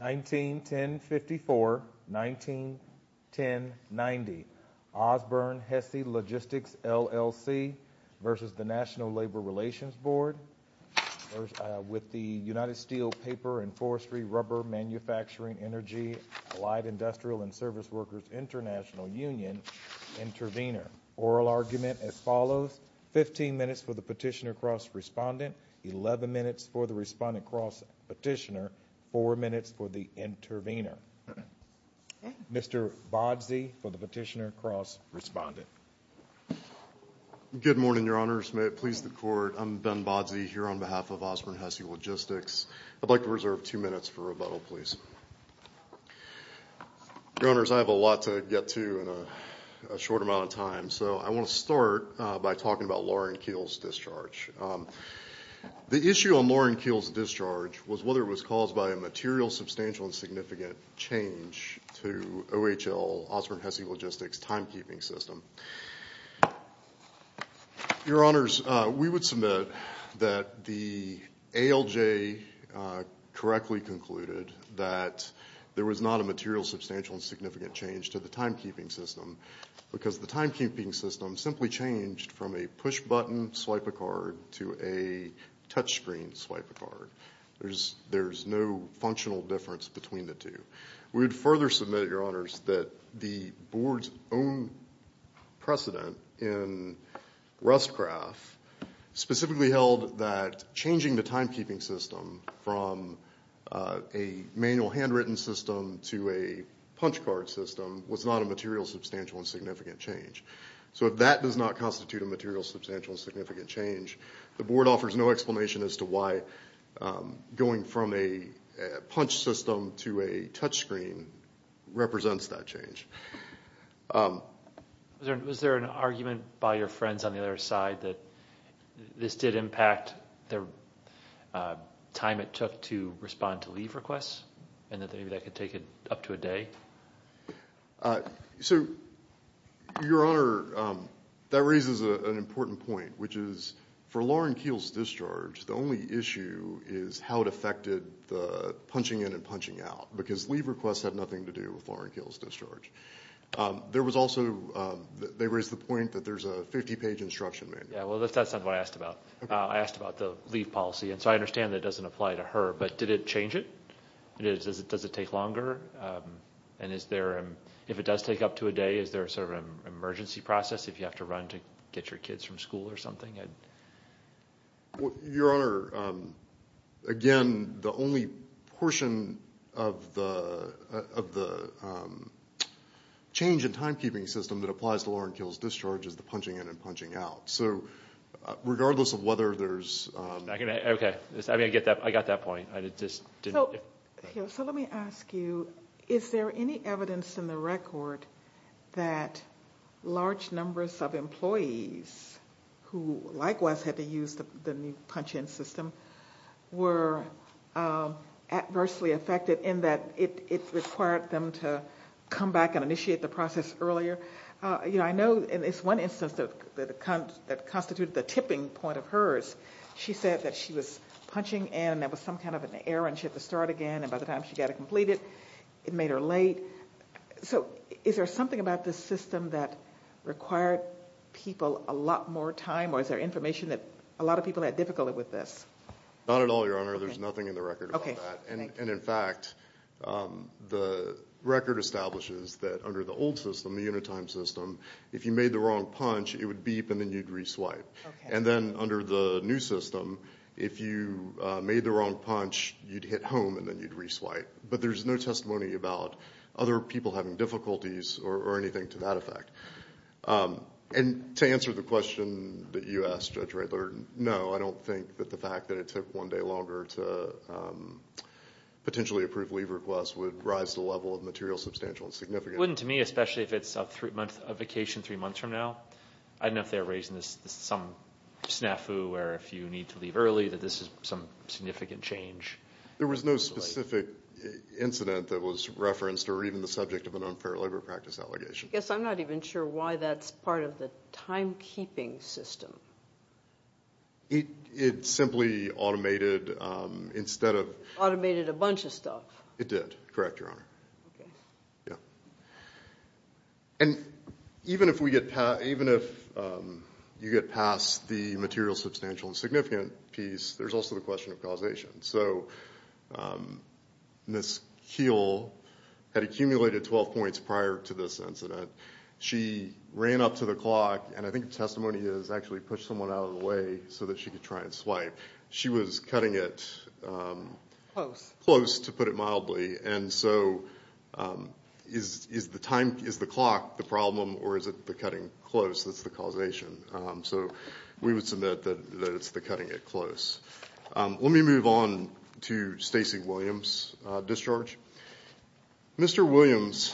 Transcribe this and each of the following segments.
19-1054 Ozburn-Hessey Logistics LLC v. NLRB 19-1090 Ozburn-Hessey Logistics LLC v. the National Labor Relations Board with the United Steel Paper and Forestry Rubber Manufacturing Energy Allied Industrial and Service Workers International Union, Intervenor. Oral argument as follows, 15 minutes for the petitioner cross-respondent, 11 minutes for the respondent cross-petitioner, 4 minutes for the intervenor. Mr. Bodzey for the petitioner cross-respondent. Good morning, Your Honors. May it please the Court, I'm Ben Bodzey here on behalf of Ozburn-Hessey Logistics. I'd like to reserve two minutes for rebuttal, please. Your Honors, I have a lot to get to in a short amount of time, so I want to start by talking about Lauren Keele's discharge. The issue on Lauren Keele's discharge was whether it was caused by a material, substantial, and significant change to OHL Ozburn-Hessey Logistics' timekeeping system. Your Honors, we would submit that the ALJ correctly concluded that there was not a material, substantial, and significant change to the timekeeping system, simply changed from a push-button swipe a card to a touch-screen swipe a card. There's no functional difference between the two. We would further submit, Your Honors, that the Board's own precedent in Rustcraft specifically held that changing the timekeeping system from a manual handwritten system to a punch card system was not a material, substantial, and significant change. So if that does not constitute a material, substantial, and significant change, the Board offers no explanation as to why going from a punch system to a touch screen represents that change. Was there an argument by your friends on the other side that this did impact the time it took to respond to leave requests and that maybe that could take it up to a day? So, Your Honor, that raises an important point, which is for Lauren Keel's discharge, the only issue is how it affected the punching in and punching out, because leave requests had nothing to do with Lauren Keel's discharge. There was also, they raised the point that there's a 50-page instruction manual. Yeah, well that's not what I asked about. I asked about the leave policy, and so I understand that doesn't apply to her, but did it change it? Does it take longer? And if it does take up to a day, is there sort of an emergency process if you have to run to get your kids from school or something? Your Honor, again, the only portion of the change in timekeeping system that applies to Lauren Keel's discharge is the punching in and punching out. So regardless of whether there's... Okay, I got that point. So let me ask you, is there any evidence in the record that large numbers of employees who likewise had to use the new punch in system were adversely affected in that it required them to come back and initiate the process earlier? You know, I know in this one instance that constituted the tipping point of hers, she said that she was punching in and there was some kind of an error and she had to start again, and by the time she got it completed, it made her late. So is there something about this system that required people a lot more time, or is there information that a lot of people had difficulty with this? Not at all, Your Honor. There's nothing in the record about that. And in fact, the record establishes that under the old system, the unit time system, if you made the wrong punch, it would beep and then you'd re-swipe. And then under the new system, if you made the wrong punch, you'd hit home and then you'd re-swipe. But there's no testimony about other people having difficulties or anything to that effect. And to answer the question that you asked, Judge Radler, no, I don't think that the fact that it took one day longer to potentially approve leave requests would rise the level of material substantial and significant. It wouldn't to me, especially if it's a vacation three months from now. I don't know if they're raising some snafu where if you need to leave early that this is some significant change. There was no specific incident that was referenced or even the subject of an unfair labor practice allegation. Yes, I'm not even sure why that's part of the timekeeping system. It simply automated instead of... Automated a bunch of stuff. It did. Correct, Your Honor. And even if you get past the material substantial and significant piece, there's also the question of causation. So Ms. Kiel had accumulated 12 points prior to this incident. She ran up to the clock, and I think the testimony is actually push someone out of the way so that she could try and swipe. She was cutting it... Close. Close, to put it mildly. And so is the clock the problem or is it the cutting close that's the causation? So we would submit that it's the cutting it close. Let me move on to Stacey Williams' discharge. Mr. Williams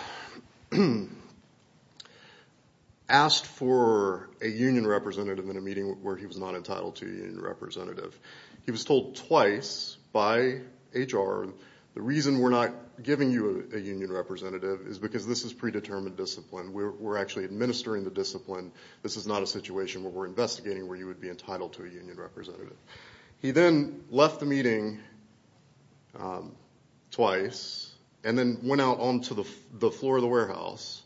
asked for a union representative in a meeting where he was not entitled to a union representative. He was told twice by HR the reason we're not giving you a union representative is because this is predetermined discipline. We're actually administering the discipline. This is not a situation where we're investigating where you would be entitled to a union representative. He then left the meeting twice and then went out onto the floor of the warehouse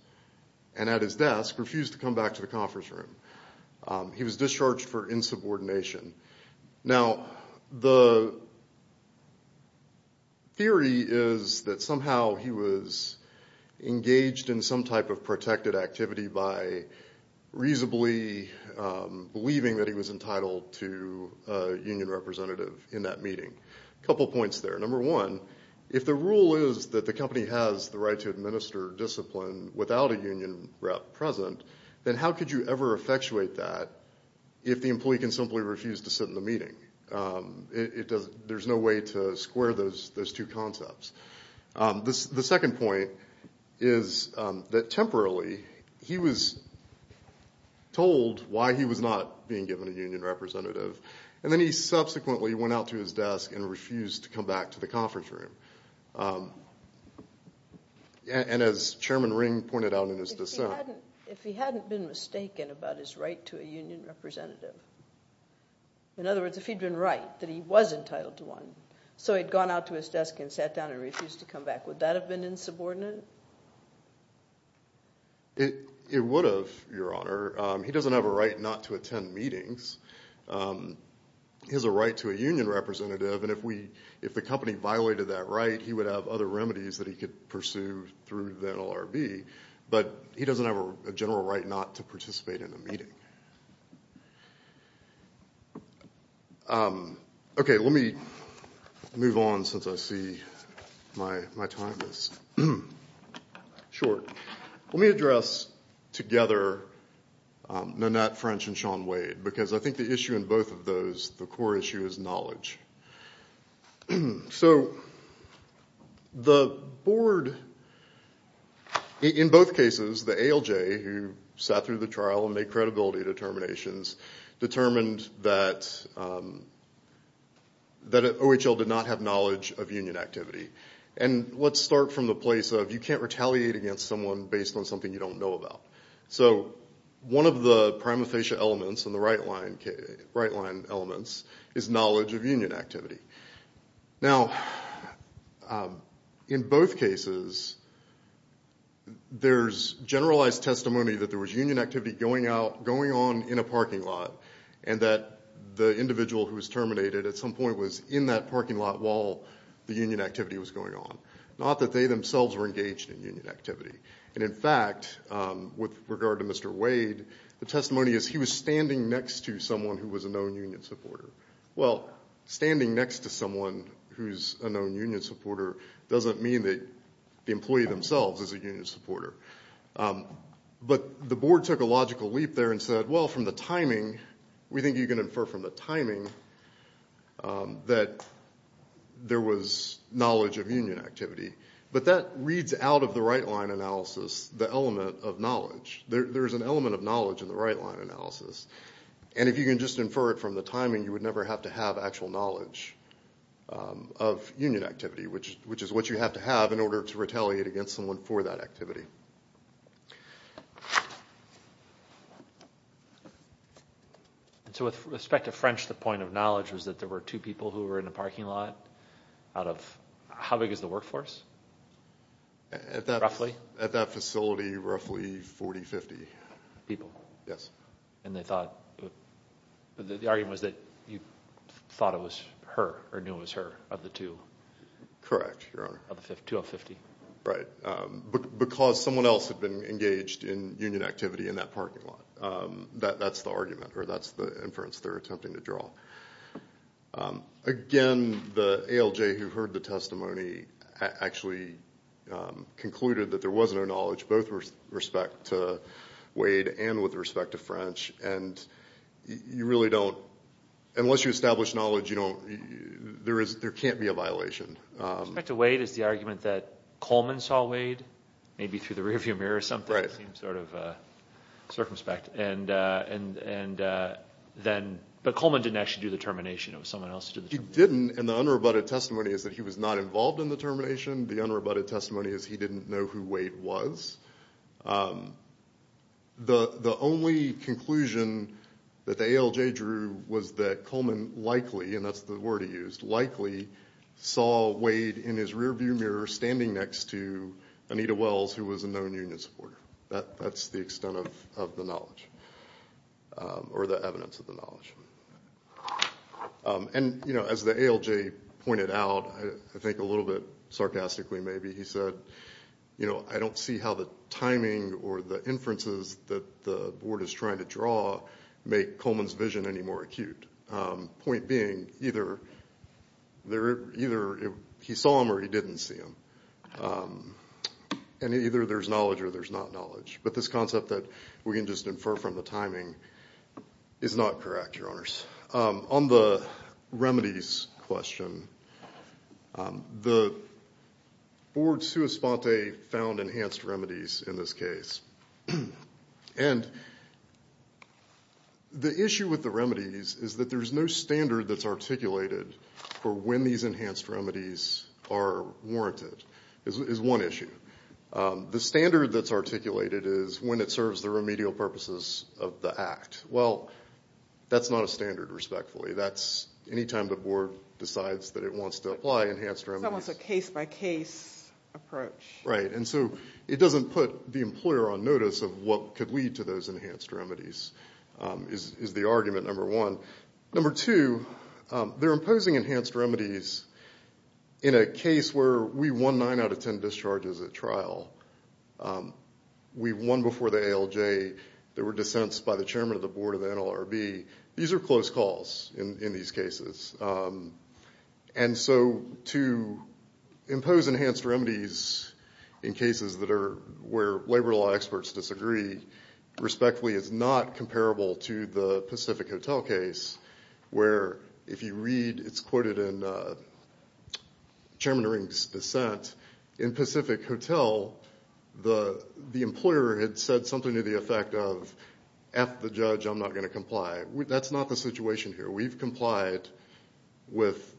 and at his desk refused to come back to the conference room. He was discharged for insubordination. Now the theory is that somehow he was engaged in some type of protected activity by reasonably believing that he was entitled to a union representative in that meeting. A couple points there. Number one, if the rule is that the company has the right to administer discipline without a union rep present, then how could you ever effectuate that if the employee can simply refuse to sit in the meeting? There's no way to square those two concepts. The second point is that temporarily he was told why he was not being given a union representative and then he subsequently went out to his desk and refused to come back to the conference room. As Chairman Ring pointed out in his dissent. If he hadn't been mistaken about his right to a union representative, in other words, so he'd gone out to his desk and refused to come back. Would that have been insubordinate? It would have, Your Honor. He doesn't have a right not to attend meetings. He has a right to a union representative and if the company violated that right, he would have other remedies that he could pursue through the NLRB, but he doesn't have a general right not to participate in a meeting. Okay, let me move on since I see my time is short. Let me address together Nanette French and Sean Wade because I think the issue in both of those, the core issue is knowledge. So the board, in both cases, the ALJ who sat through the trial and made credibility determinations, determined that OHL did not have knowledge of union activity. And let's start from the place of you can't retaliate against someone based on something you don't know about. So one of the prima facie elements and the right line elements is knowledge of union activity. Now, in both cases, there's generalized testimony that there was union activity going on in a parking lot and that the individual who was terminated at some point was in that parking lot while the union activity was going on. Not that they themselves were engaged in union activity. And in fact, with regard to Mr. Wade, the testimony is he was standing next to someone who was a known union supporter. Well, standing next to someone who's a known union supporter doesn't mean that the employee themselves is a union supporter. But the board took a logical leap there and said, well, from the timing, we think you can infer from the timing that there was knowledge of union activity. But that reads out of the right line analysis the element of knowledge. There's an element of knowledge in the right line analysis. And if you can just infer it from the timing, you would never have to have actual knowledge of union activity, which is what you have to have in order to retaliate against someone for that activity. So with respect to French, the point of knowledge was that there were two people who were in a parking lot out of, how big is the workforce? At that facility, roughly 40, 50 people. Yes. And they thought, the argument was that you thought it was her or knew it was her of the two. Correct, Your Honor. Of the two of 50. Right. Because someone else had been engaged in union activity in that parking lot. That's the argument, or that's the inference they're attempting to draw. Again, the ALJ who heard the testimony actually concluded that there was no knowledge, both with respect to Wade and with respect to French. And you really don't, unless you establish knowledge, you don't, there can't be a violation. With respect to Wade is the argument that Coleman saw Wade, maybe through the rear view mirror or something. Right. It seems sort of circumspect. And then, but Coleman didn't actually do the termination. It was someone else who did the termination. He didn't, and the unrebutted testimony is that he was not involved in the termination. The unrebutted testimony is he didn't know who Wade was. The only conclusion that the ALJ drew was that Coleman likely, and that's the word he used, likely saw Wade in his rear view mirror standing next to Anita Wells who was a known union supporter. That's the extent of the knowledge, or the evidence of the knowledge. And, as the ALJ pointed out, I think a little bit sarcastically maybe, he said, I don't see how the timing or the inferences that the board is trying to draw make Coleman's vision any more acute. Point being, either he saw him or he didn't see him. And either there's knowledge or there's not knowledge. But this concept that we can just infer from the timing is not correct, Your Honors. On the remedies question, the board, sua sponte, found enhanced remedies in this case. And the issue with the remedies is that there's no standard that's articulated for when these enhanced remedies are warranted, is one issue. The standard that's articulated is when it is warranted. Well, that's not a standard, respectfully. That's any time the board decides that it wants to apply enhanced remedies. It's almost a case-by-case approach. Right. And so it doesn't put the employer on notice of what could lead to those enhanced remedies, is the argument, number one. Number two, they're imposing enhanced remedies in a case where we won nine out of ten discharges at trial. We won before the ALJ. There were dissents by the chairman of the board of the NLRB. These are close calls in these cases. And so to impose enhanced remedies in cases where labor law experts disagree, respectfully, is not comparable to the Pacific Hotel case, where if you read, it's quoted in Chairman F. the judge, I'm not going to comply. That's not the situation here. We've complied with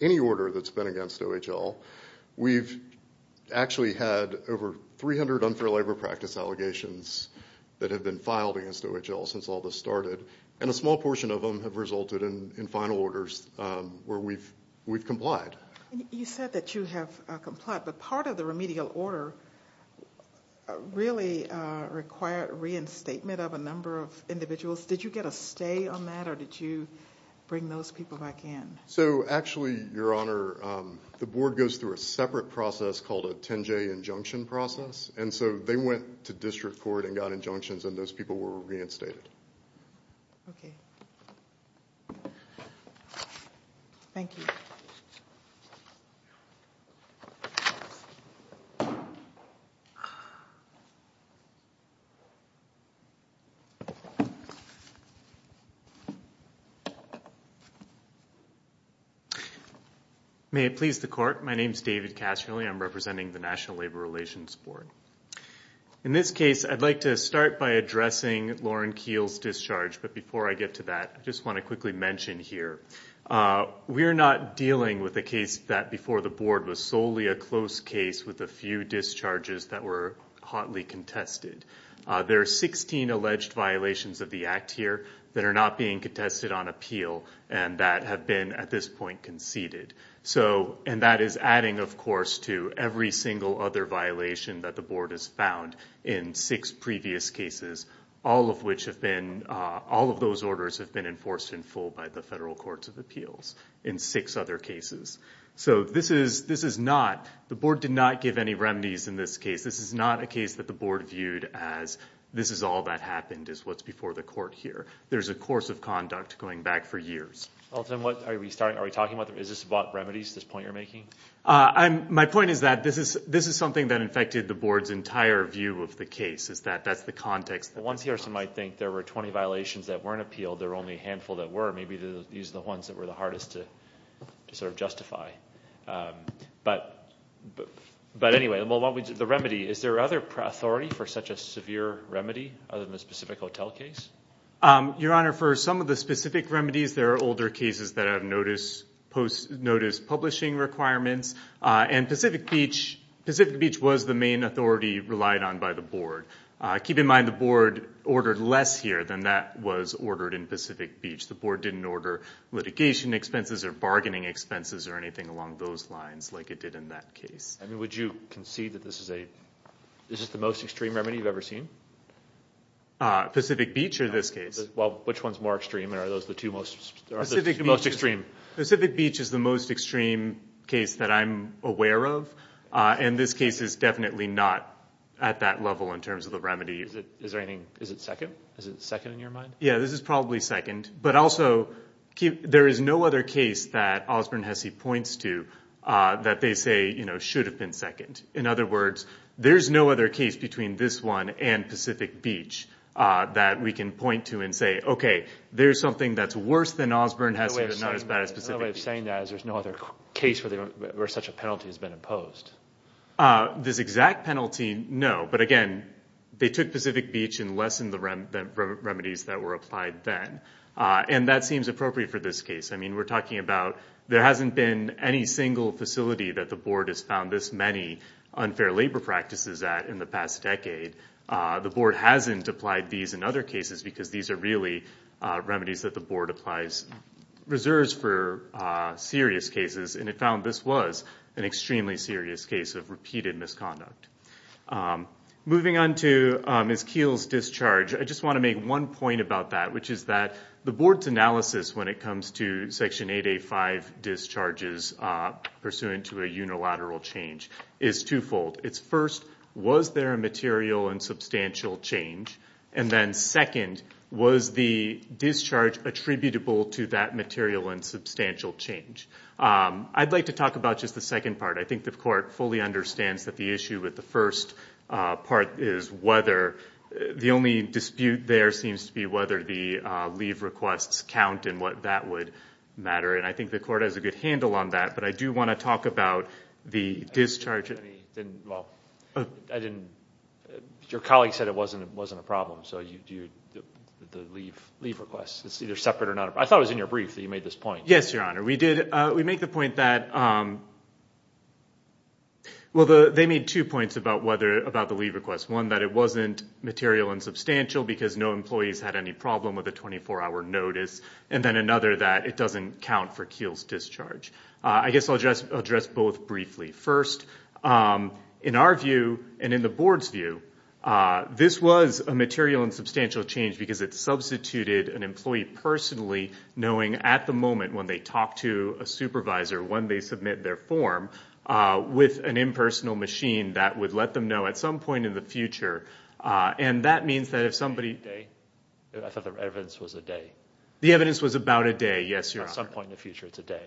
any order that's been against OHL. We've actually had over 300 unfair labor practice allegations that have been filed against OHL since all this started. And a small portion of them have resulted in final orders where we've complied. You said that you have complied, but part of the remedial order really required reinstatement of a number of individuals. Did you get a stay on that, or did you bring those people back in? So actually, Your Honor, the board goes through a separate process called a 10-J injunction process. And so they went to district court and got injunctions, and those people were brought back in. May it please the Court, my name is David Cashionley. I'm representing the National Labor Relations Board. In this case, I'd like to start by addressing Lauren Keele's discharge, but before I get to that, I just want to quickly mention here, we're not dealing with a case that before the board was solely a close case with a few discharges that were hotly contested. There are 16 alleged violations of the act here that are not being contested on appeal and that have been at this point conceded. And that is adding, of course, to every single other violation that the board has found in six previous cases, all of which have been, all of those orders have been enforced in full by the Federal Courts of Appeals in six other cases. So this is, this is not, the board did not give any remedies in this case. This is not a case that the board viewed as, this is all that happened, is what's before the court here. There's a course of conduct going back for years. Well, then what, are we talking about, is this about remedies, this point you're making? My point is that this is, this is something that affected the board's entire view of the case, is that that's the context. Well, one's hearsay might think there were 20 violations that weren't appealed, there were only a handful that were, maybe these are the ones that were the hardest to sort of justify. But, but anyway, the remedy, is there other authority for such a severe remedy other than a specific hotel case? Your Honor, for some of the specific remedies, there are older cases that have notice, post impairments, and Pacific Beach, Pacific Beach was the main authority relied on by the board. Keep in mind the board ordered less here than that was ordered in Pacific Beach. The board didn't order litigation expenses or bargaining expenses or anything along those lines like it did in that case. I mean, would you concede that this is a, this is the most extreme remedy you've ever seen? Pacific Beach or this case? Well, which one's more extreme? Are those the two most, are those the most extreme? Pacific Beach is the most extreme case that I'm aware of. And this case is definitely not at that level in terms of the remedy. Is it, is there anything, is it second? Is it second in your mind? Yeah, this is probably second. But also, there is no other case that Osborne-Hesse points to that they say, you know, should have been second. In other words, there's no other case between this one and Pacific Beach that we can point to and say, okay, there's something that's worse than Osborne-Hesse but not as bad as Pacific Beach. Another way of saying that is there's no other case where such a penalty has been imposed. This exact penalty, no. But again, they took Pacific Beach and lessened the remedies that were applied then. And that seems appropriate for this case. I mean, we're talking about there hasn't been any single facility that the board has found this many unfair labor practices at in the past decade. The board hasn't applied these in other cases because these are really remedies that the board applies, reserves for serious cases. And it found this was an extremely serious case of repeated misconduct. Moving on to Ms. Keele's discharge, I just want to make one point about that, which is that the board's analysis when it comes to Section 885 discharges pursuant to a unilateral change is twofold. It's first, was there a material and substantial change? And then second, was the discharge attributable to that material and substantial change? I'd like to talk about just the second part. I think the court fully understands that the issue with the first part is whether the only dispute there seems to be whether the leave requests count and what that would matter. And I think the court has a good handle on that, but I do want to talk about the discharge. Your colleague said it wasn't a problem, so the leave requests, it's either separate or not. I thought it was in your brief that you made this point. Yes, Your Honor. We make the point that, well, they made two points about the leave requests. One, that it wasn't material and substantial because no employees had any problem with McKeel's discharge. I guess I'll address both briefly. First, in our view and in the board's view, this was a material and substantial change because it substituted an employee personally knowing at the moment when they talk to a supervisor, when they submit their form, with an impersonal machine that would let them know at some point in the future. And that means that if somebody- I thought the evidence was a day. The evidence was about a day, yes, Your Honor. At some point in the future, it's a day.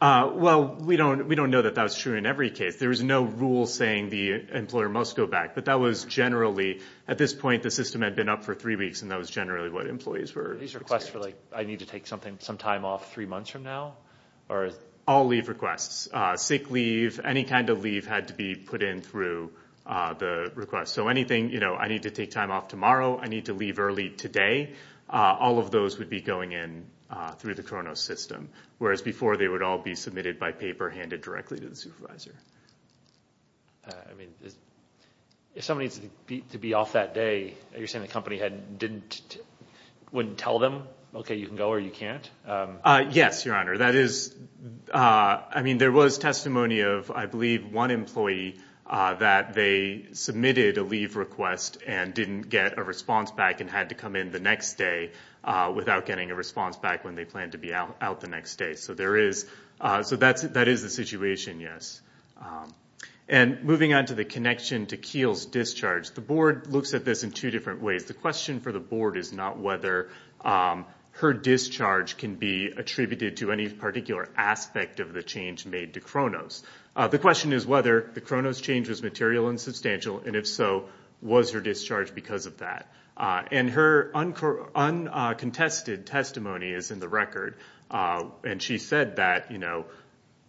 Well, we don't know that that's true in every case. There is no rule saying the employer must go back, but that was generally, at this point, the system had been up for three weeks and that was generally what employees were expecting. These requests for, like, I need to take some time off three months from now? All leave requests. Sick leave, any kind of leave had to be put in through the request. So anything, you know, I need to take time off tomorrow, I need to leave early today, all of those would be going in through the Kronos system, whereas before they would all be submitted by paper handed directly to the supervisor. I mean, if somebody needs to be off that day, you're saying the company didn't- wouldn't tell them, okay, you can go or you can't? Yes, Your Honor. That is- I mean, there was testimony of, I believe, one employee that they submitted a leave request and didn't get a response back and had to come in the next day without getting a response back when they planned to be out the next day. So there is- so that is the situation, yes. And moving on to the connection to Kiel's discharge, the board looks at this in two different ways. The question for the board is not whether her discharge can be attributed to any particular aspect of the change made to Kronos. The question is whether the Kronos change was material and substantial, and if so, was her discharge because of that? And her uncontested testimony is in the record, and she said that, you know,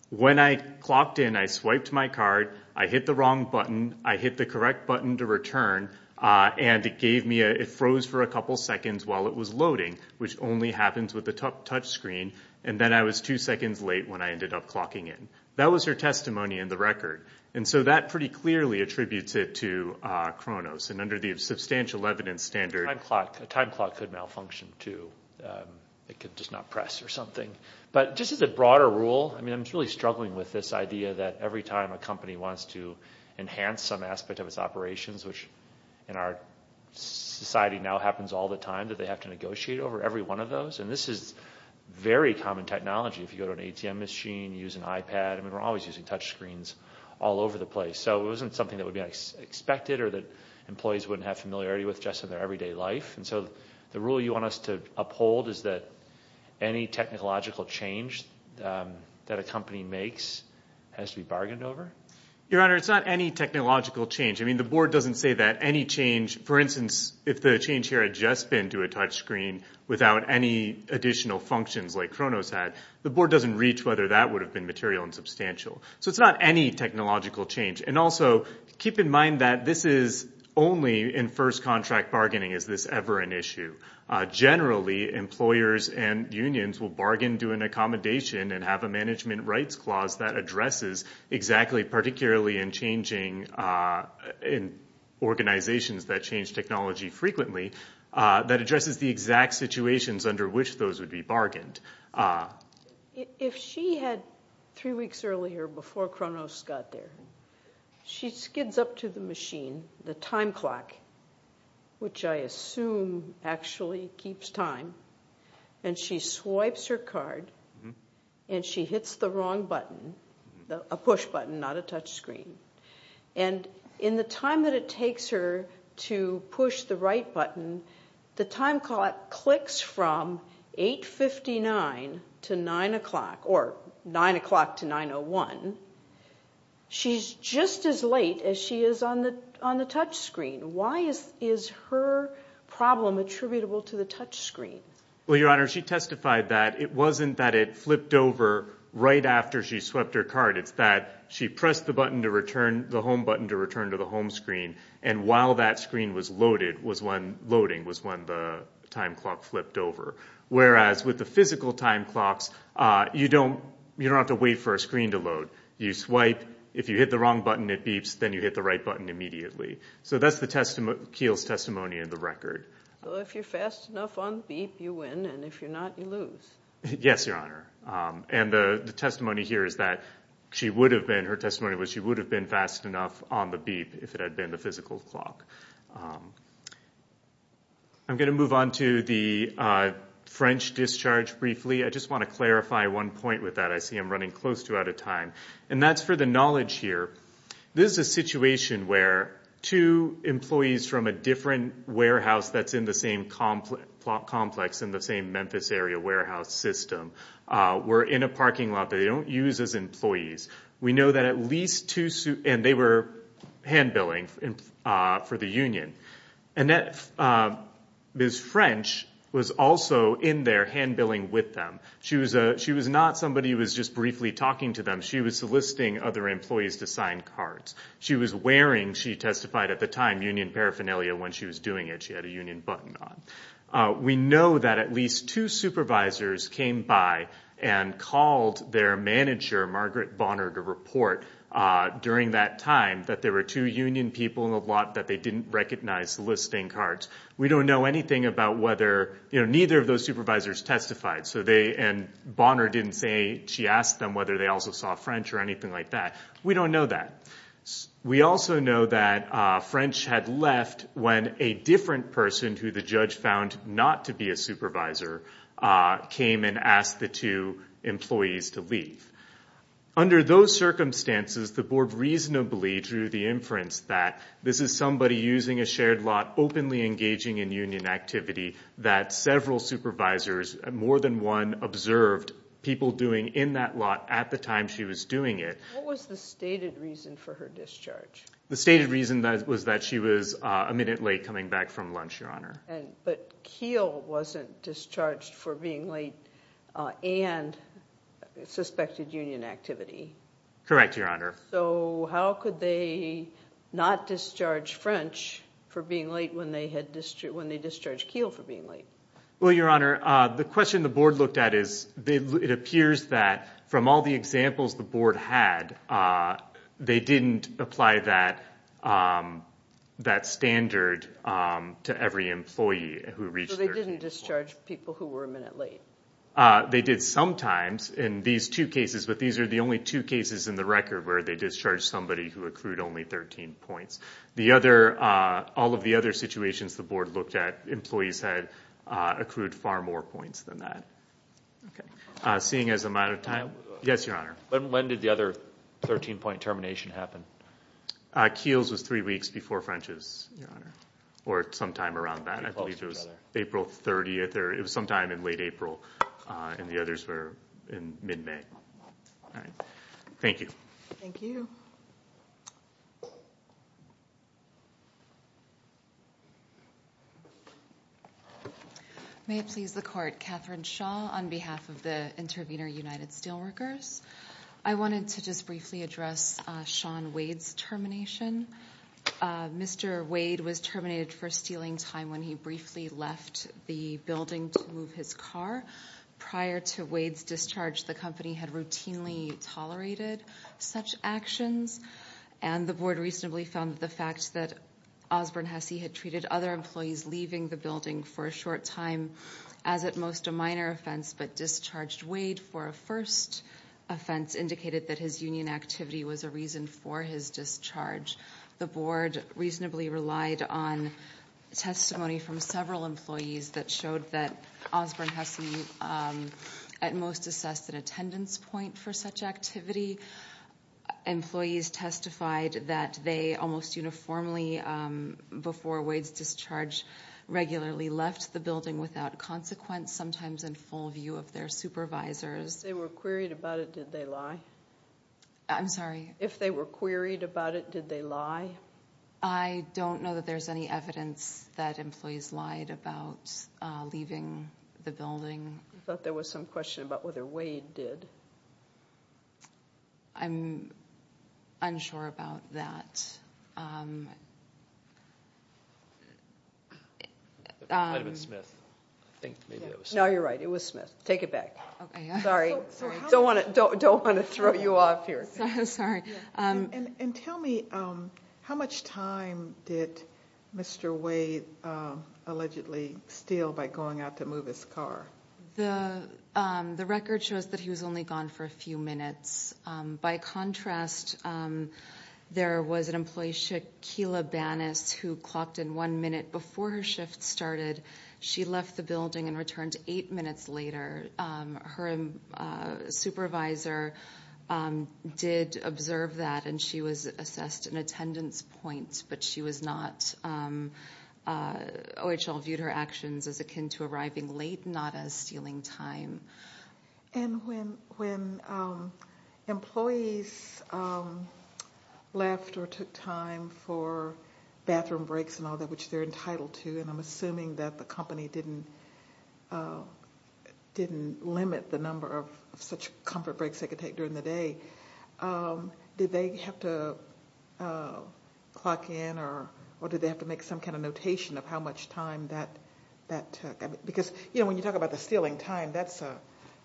when I clocked in, I swiped my card, I hit the wrong button, I hit the correct button to return, and it gave me a- it froze for a couple seconds while it was loading, which only happens with a touch screen, and then I was two seconds late when I ended up clocking in. That was her discharge. And that pretty clearly attributes it to Kronos, and under the substantial evidence standard- A time clock could malfunction, too. It could just not press or something. But just as a broader rule, I mean, I'm really struggling with this idea that every time a company wants to enhance some aspect of its operations, which in our society now happens all the time that they have to negotiate over every one of those, and this is very common technology. If you go to an ATM machine, use an iPad, I mean, we're always using touch screens all over the place, so it wasn't something that would be expected or that employees wouldn't have familiarity with just in their everyday life, and so the rule you want us to uphold is that any technological change that a company makes has to be bargained over? Your Honor, it's not any technological change. I mean, the board doesn't say that any change- for instance, if the change here had just been to a touch screen without any additional functions like Kronos had, the board doesn't reach whether that would have been material and substantial. So it's not any technological change. And also, keep in mind that this is only in first contract bargaining is this ever an issue. Generally, employers and unions will bargain to an accommodation and have a management rights clause that addresses exactly particularly in changing- in organizations that change technology frequently, that addresses If she had three weeks earlier before Kronos got there, she skids up to the machine, the time clock, which I assume actually keeps time, and she swipes her card, and she hits the wrong button, a push button, not a touch screen. And in the time that it takes her to push the right button, the time clock clicks from 8.59 to 9 o'clock, or 9 o'clock to 9.01. She's just as late as she is on the touch screen. Why is her problem attributable to the touch screen? Well, Your Honor, she testified that it wasn't that it flipped over right after she swept her card. It's that she pressed the button to return- the home button to return to the home screen, and while that screen was loading was when the time clock flipped over. Whereas with the physical time clocks, you don't have to wait for a screen to load. You swipe. If you hit the wrong button, it beeps. Then you hit the right button immediately. So that's Keele's testimony in the record. So if you're fast enough on the beep, you win, and if you're not, you lose. Yes, Your Honor. And the testimony here is that she would have been- her testimony was if it had been the physical clock. I'm going to move on to the French discharge briefly. I just want to clarify one point with that. I see I'm running close to out of time, and that's for the knowledge here. This is a situation where two employees from a different warehouse that's in the same complex in the same Memphis area warehouse system were in a parking lot that they don't use as employees. We know that at least two- and they were hand-billing for the union. Ms. French was also in there hand-billing with them. She was not somebody who was just briefly talking to them. She was soliciting other employees to sign cards. She was wearing, she testified at the time, union paraphernalia when she was doing it. She had a union button on. We know that at least two supervisors came by and called their manager, Margaret Bonner, to report during that time that there were two union people in the lot that they didn't recognize soliciting cards. We don't know anything about whether- neither of those supervisors testified, and Bonner didn't say she asked them whether they also saw French or anything like that. We don't know that. We also know that French had left when a different person who the judge found not to be a supervisor came and asked the two employees to leave. Under those circumstances, the board reasonably drew the inference that this is somebody using a shared lot, openly engaging in union activity that several supervisors, more than one, observed people doing in that lot at the time she was doing it. What was the stated reason for her discharge? The stated reason was that she was a minute late coming back from lunch, Your Honor. But Kiel wasn't discharged for being late and suspected union activity. Correct, Your Honor. So how could they not discharge French for being late when they discharged Kiel for being late? Well, Your Honor, the question the board looked at is it appears that from all the examples the board had, they didn't apply that standard to every employee who reached their- So they didn't discharge people who were a minute late. They did sometimes in these two cases, but these are the only two cases in the record where they discharged somebody who accrued only 13 points. All of the other situations the board looked at, employees had accrued far more points than that. Seeing as the amount of time- Yes, Your Honor. When did the other 13-point termination happen? Kiel's was three weeks before French's, Your Honor, or sometime around that. I believe it was April 30th or it was sometime in late April, and the others were in mid-May. All right. Thank you. Thank you. Thank you. May it please the Court. Catherine Shaw on behalf of the Intervenor United Steelworkers. I wanted to just briefly address Sean Wade's termination. Mr. Wade was terminated for stealing time when he briefly left the building to move his car. Prior to Wade's discharge, the company had routinely tolerated such actions, and the board recently found that the fact that Osborne Hesse had treated other employees leaving the building for a short time as at most a minor offense but discharged Wade for a first offense indicated that his union activity was a reason for his discharge. The board reasonably relied on testimony from several employees that showed that Osborne Hesse at most assessed an attendance point for such activity. Employees testified that they almost uniformly, before Wade's discharge, regularly left the building without consequence, sometimes in full view of their supervisors. If they were queried about it, did they lie? I'm sorry? If they were queried about it, did they lie? I don't know that there's any evidence that employees lied about leaving the building. I thought there was some question about whether Wade did. I'm unsure about that. Might have been Smith. I think maybe that was Smith. No, you're right. It was Smith. Take it back. Sorry. Don't want to throw you off here. Sorry. And tell me, how much time did Mr. Wade allegedly steal by going out to move his car? The record shows that he was only gone for a few minutes. By contrast, there was an employee, Shakila Banas, who clocked in one minute before her shift started. She left the building and returned eight minutes later. Her supervisor did observe that, and she was assessed an attendance point, but she was not. OHL viewed her actions as akin to arriving late, not as stealing time. And when employees left or took time for bathroom breaks and all that, which they're entitled to, and I'm assuming that the company didn't limit the number of such comfort breaks they could take during the day, did they have to clock in or did they have to make some kind of notation of how much time that took? Because when you talk about the stealing time, that's a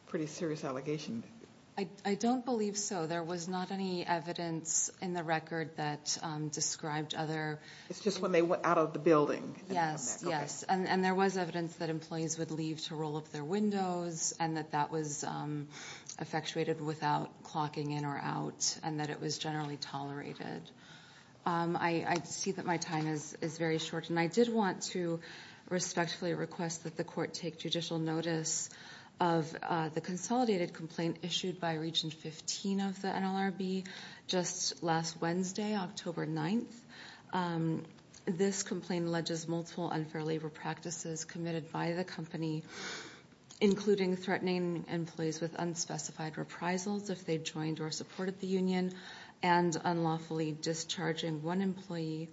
pretty serious allegation. I don't believe so. There was not any evidence in the record that described other. It's just when they went out of the building. Yes, yes. And there was evidence that employees would leave to roll up their windows, and that that was effectuated without clocking in or out, and that it was generally tolerated. I see that my time is very short, and I did want to respectfully request that the court take judicial notice of the consolidated complaint issued by Region 15 of the NLRB just last Wednesday, October 9th. This complaint alleges multiple unfair labor practices committed by the company, including threatening employees with unspecified reprisals if they joined or supported the union, and unlawfully discharging one employee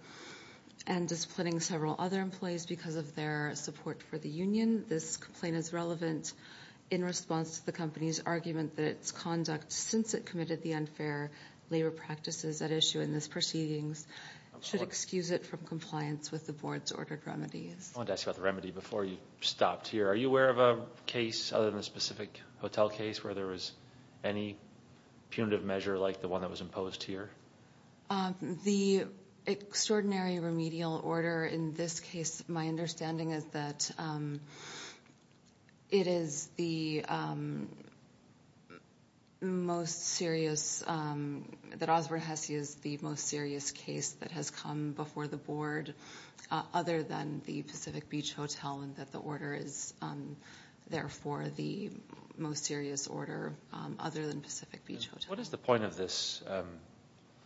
and disciplining several other employees because of their support for the union. This complaint is relevant in response to the company's argument that its conduct, since it committed the unfair labor practices at issue in this proceedings, should excuse it from compliance with the board's ordered remedies. I wanted to ask you about the remedy before you stopped here. Are you aware of a case, other than a specific hotel case, where there was any punitive measure like the one that was imposed here? The extraordinary remedial order in this case, my understanding is that it is the most serious, that Osborne Hesse is the most serious case that has come before the board other than the Pacific Beach Hotel, and that the order is therefore the most serious order other than Pacific Beach Hotel. What is the point of this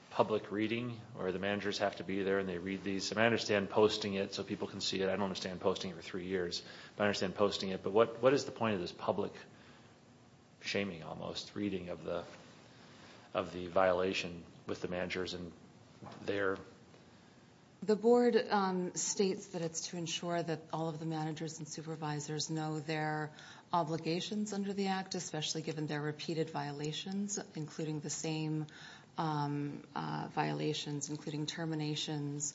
public reading where the managers have to be there and they read these? I understand posting it so people can see it. I don't understand posting it for three years, but I understand posting it. But what is the point of this public, shaming almost, reading of the violation with the managers and their... The board states that it's to ensure that all of the managers and supervisors know their obligations under the act, especially given their repeated violations, including the same violations, including terminations,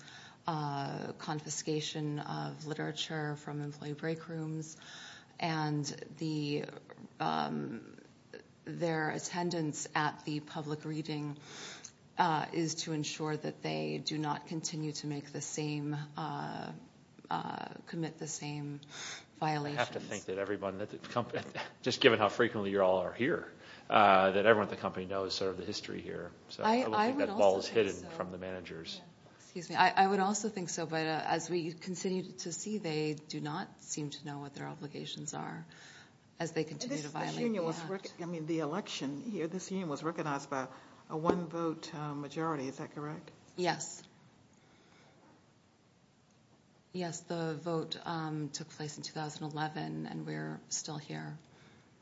confiscation of literature from employee break rooms, and their attendance at the public reading is to ensure that they do not continue to make the same, commit the same violations. I would have to think that everyone at the company, just given how frequently you all are here, that everyone at the company knows sort of the history here. I would think that ball is hit from the managers. I would also think so, but as we continue to see, they do not seem to know what their obligations are as they continue to violate the act. The election here, this union was recognized by a one vote majority. Is that correct? Yes. Yes, the vote took place in 2011, and we're still here.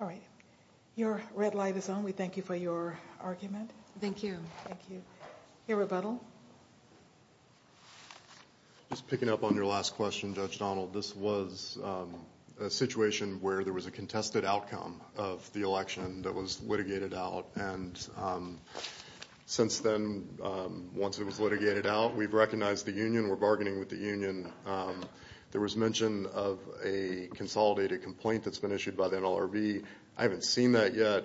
All right. Your red light is on. We thank you for your argument. Thank you. Thank you. Your rebuttal. Just picking up on your last question, Judge Donald, this was a situation where there was a contested outcome of the election that was litigated out. Since then, once it was litigated out, we've recognized the union. We're bargaining with the union. There was mention of a consolidated complaint that's been issued by the NLRB. I haven't seen that yet.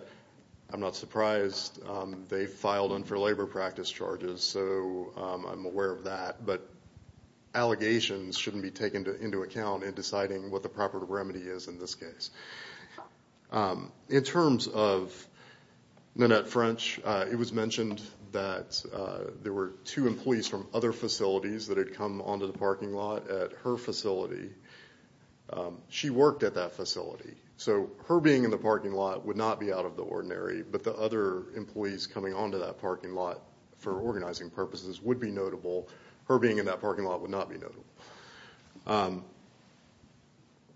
I'm not surprised. They filed unfair labor practice charges, so I'm aware of that. But allegations shouldn't be taken into account in deciding what the proper remedy is in this case. In terms of Nanette French, it was mentioned that there were two employees from other facilities that had come onto the parking lot at her facility. She worked at that facility, so her being in the parking lot would not be out of the ordinary. But the other employees coming onto that parking lot for organizing purposes would be notable. Her being in that parking lot would not be notable.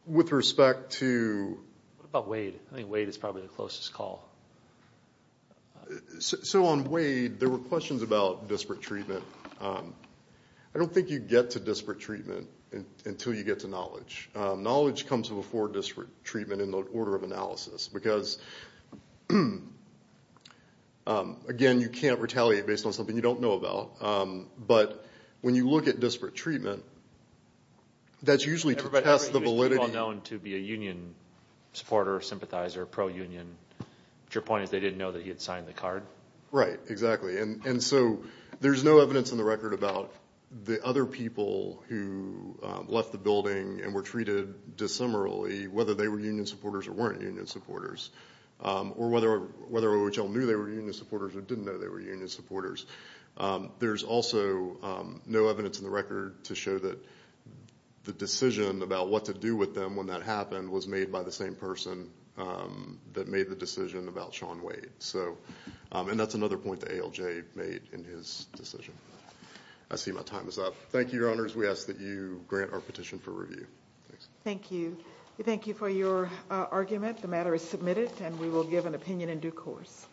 With respect to- What about Wade? I think Wade is probably the closest call. So on Wade, there were questions about disparate treatment. I don't think you get to disparate treatment until you get to knowledge. Knowledge comes before disparate treatment in the order of analysis because, again, you can't retaliate based on something you don't know about. But when you look at disparate treatment, that's usually to test the validity- Everybody thought he was pretty well known to be a union supporter, sympathizer, pro-union. But your point is they didn't know that he had signed the card? Right, exactly. And so there's no evidence in the record about the other people who left the building and were treated dissimilarly, whether they were union supporters or weren't union supporters, or whether OHL knew they were union supporters or didn't know they were union supporters. There's also no evidence in the record to show that the decision about what to do with them when that happened was made by the same person that made the decision about Sean Wade. And that's another point that ALJ made in his decision. I see my time is up. Thank you, Your Honors. We ask that you grant our petition for review. Thank you. We thank you for your argument. The matter is submitted, and we will give an opinion in due course.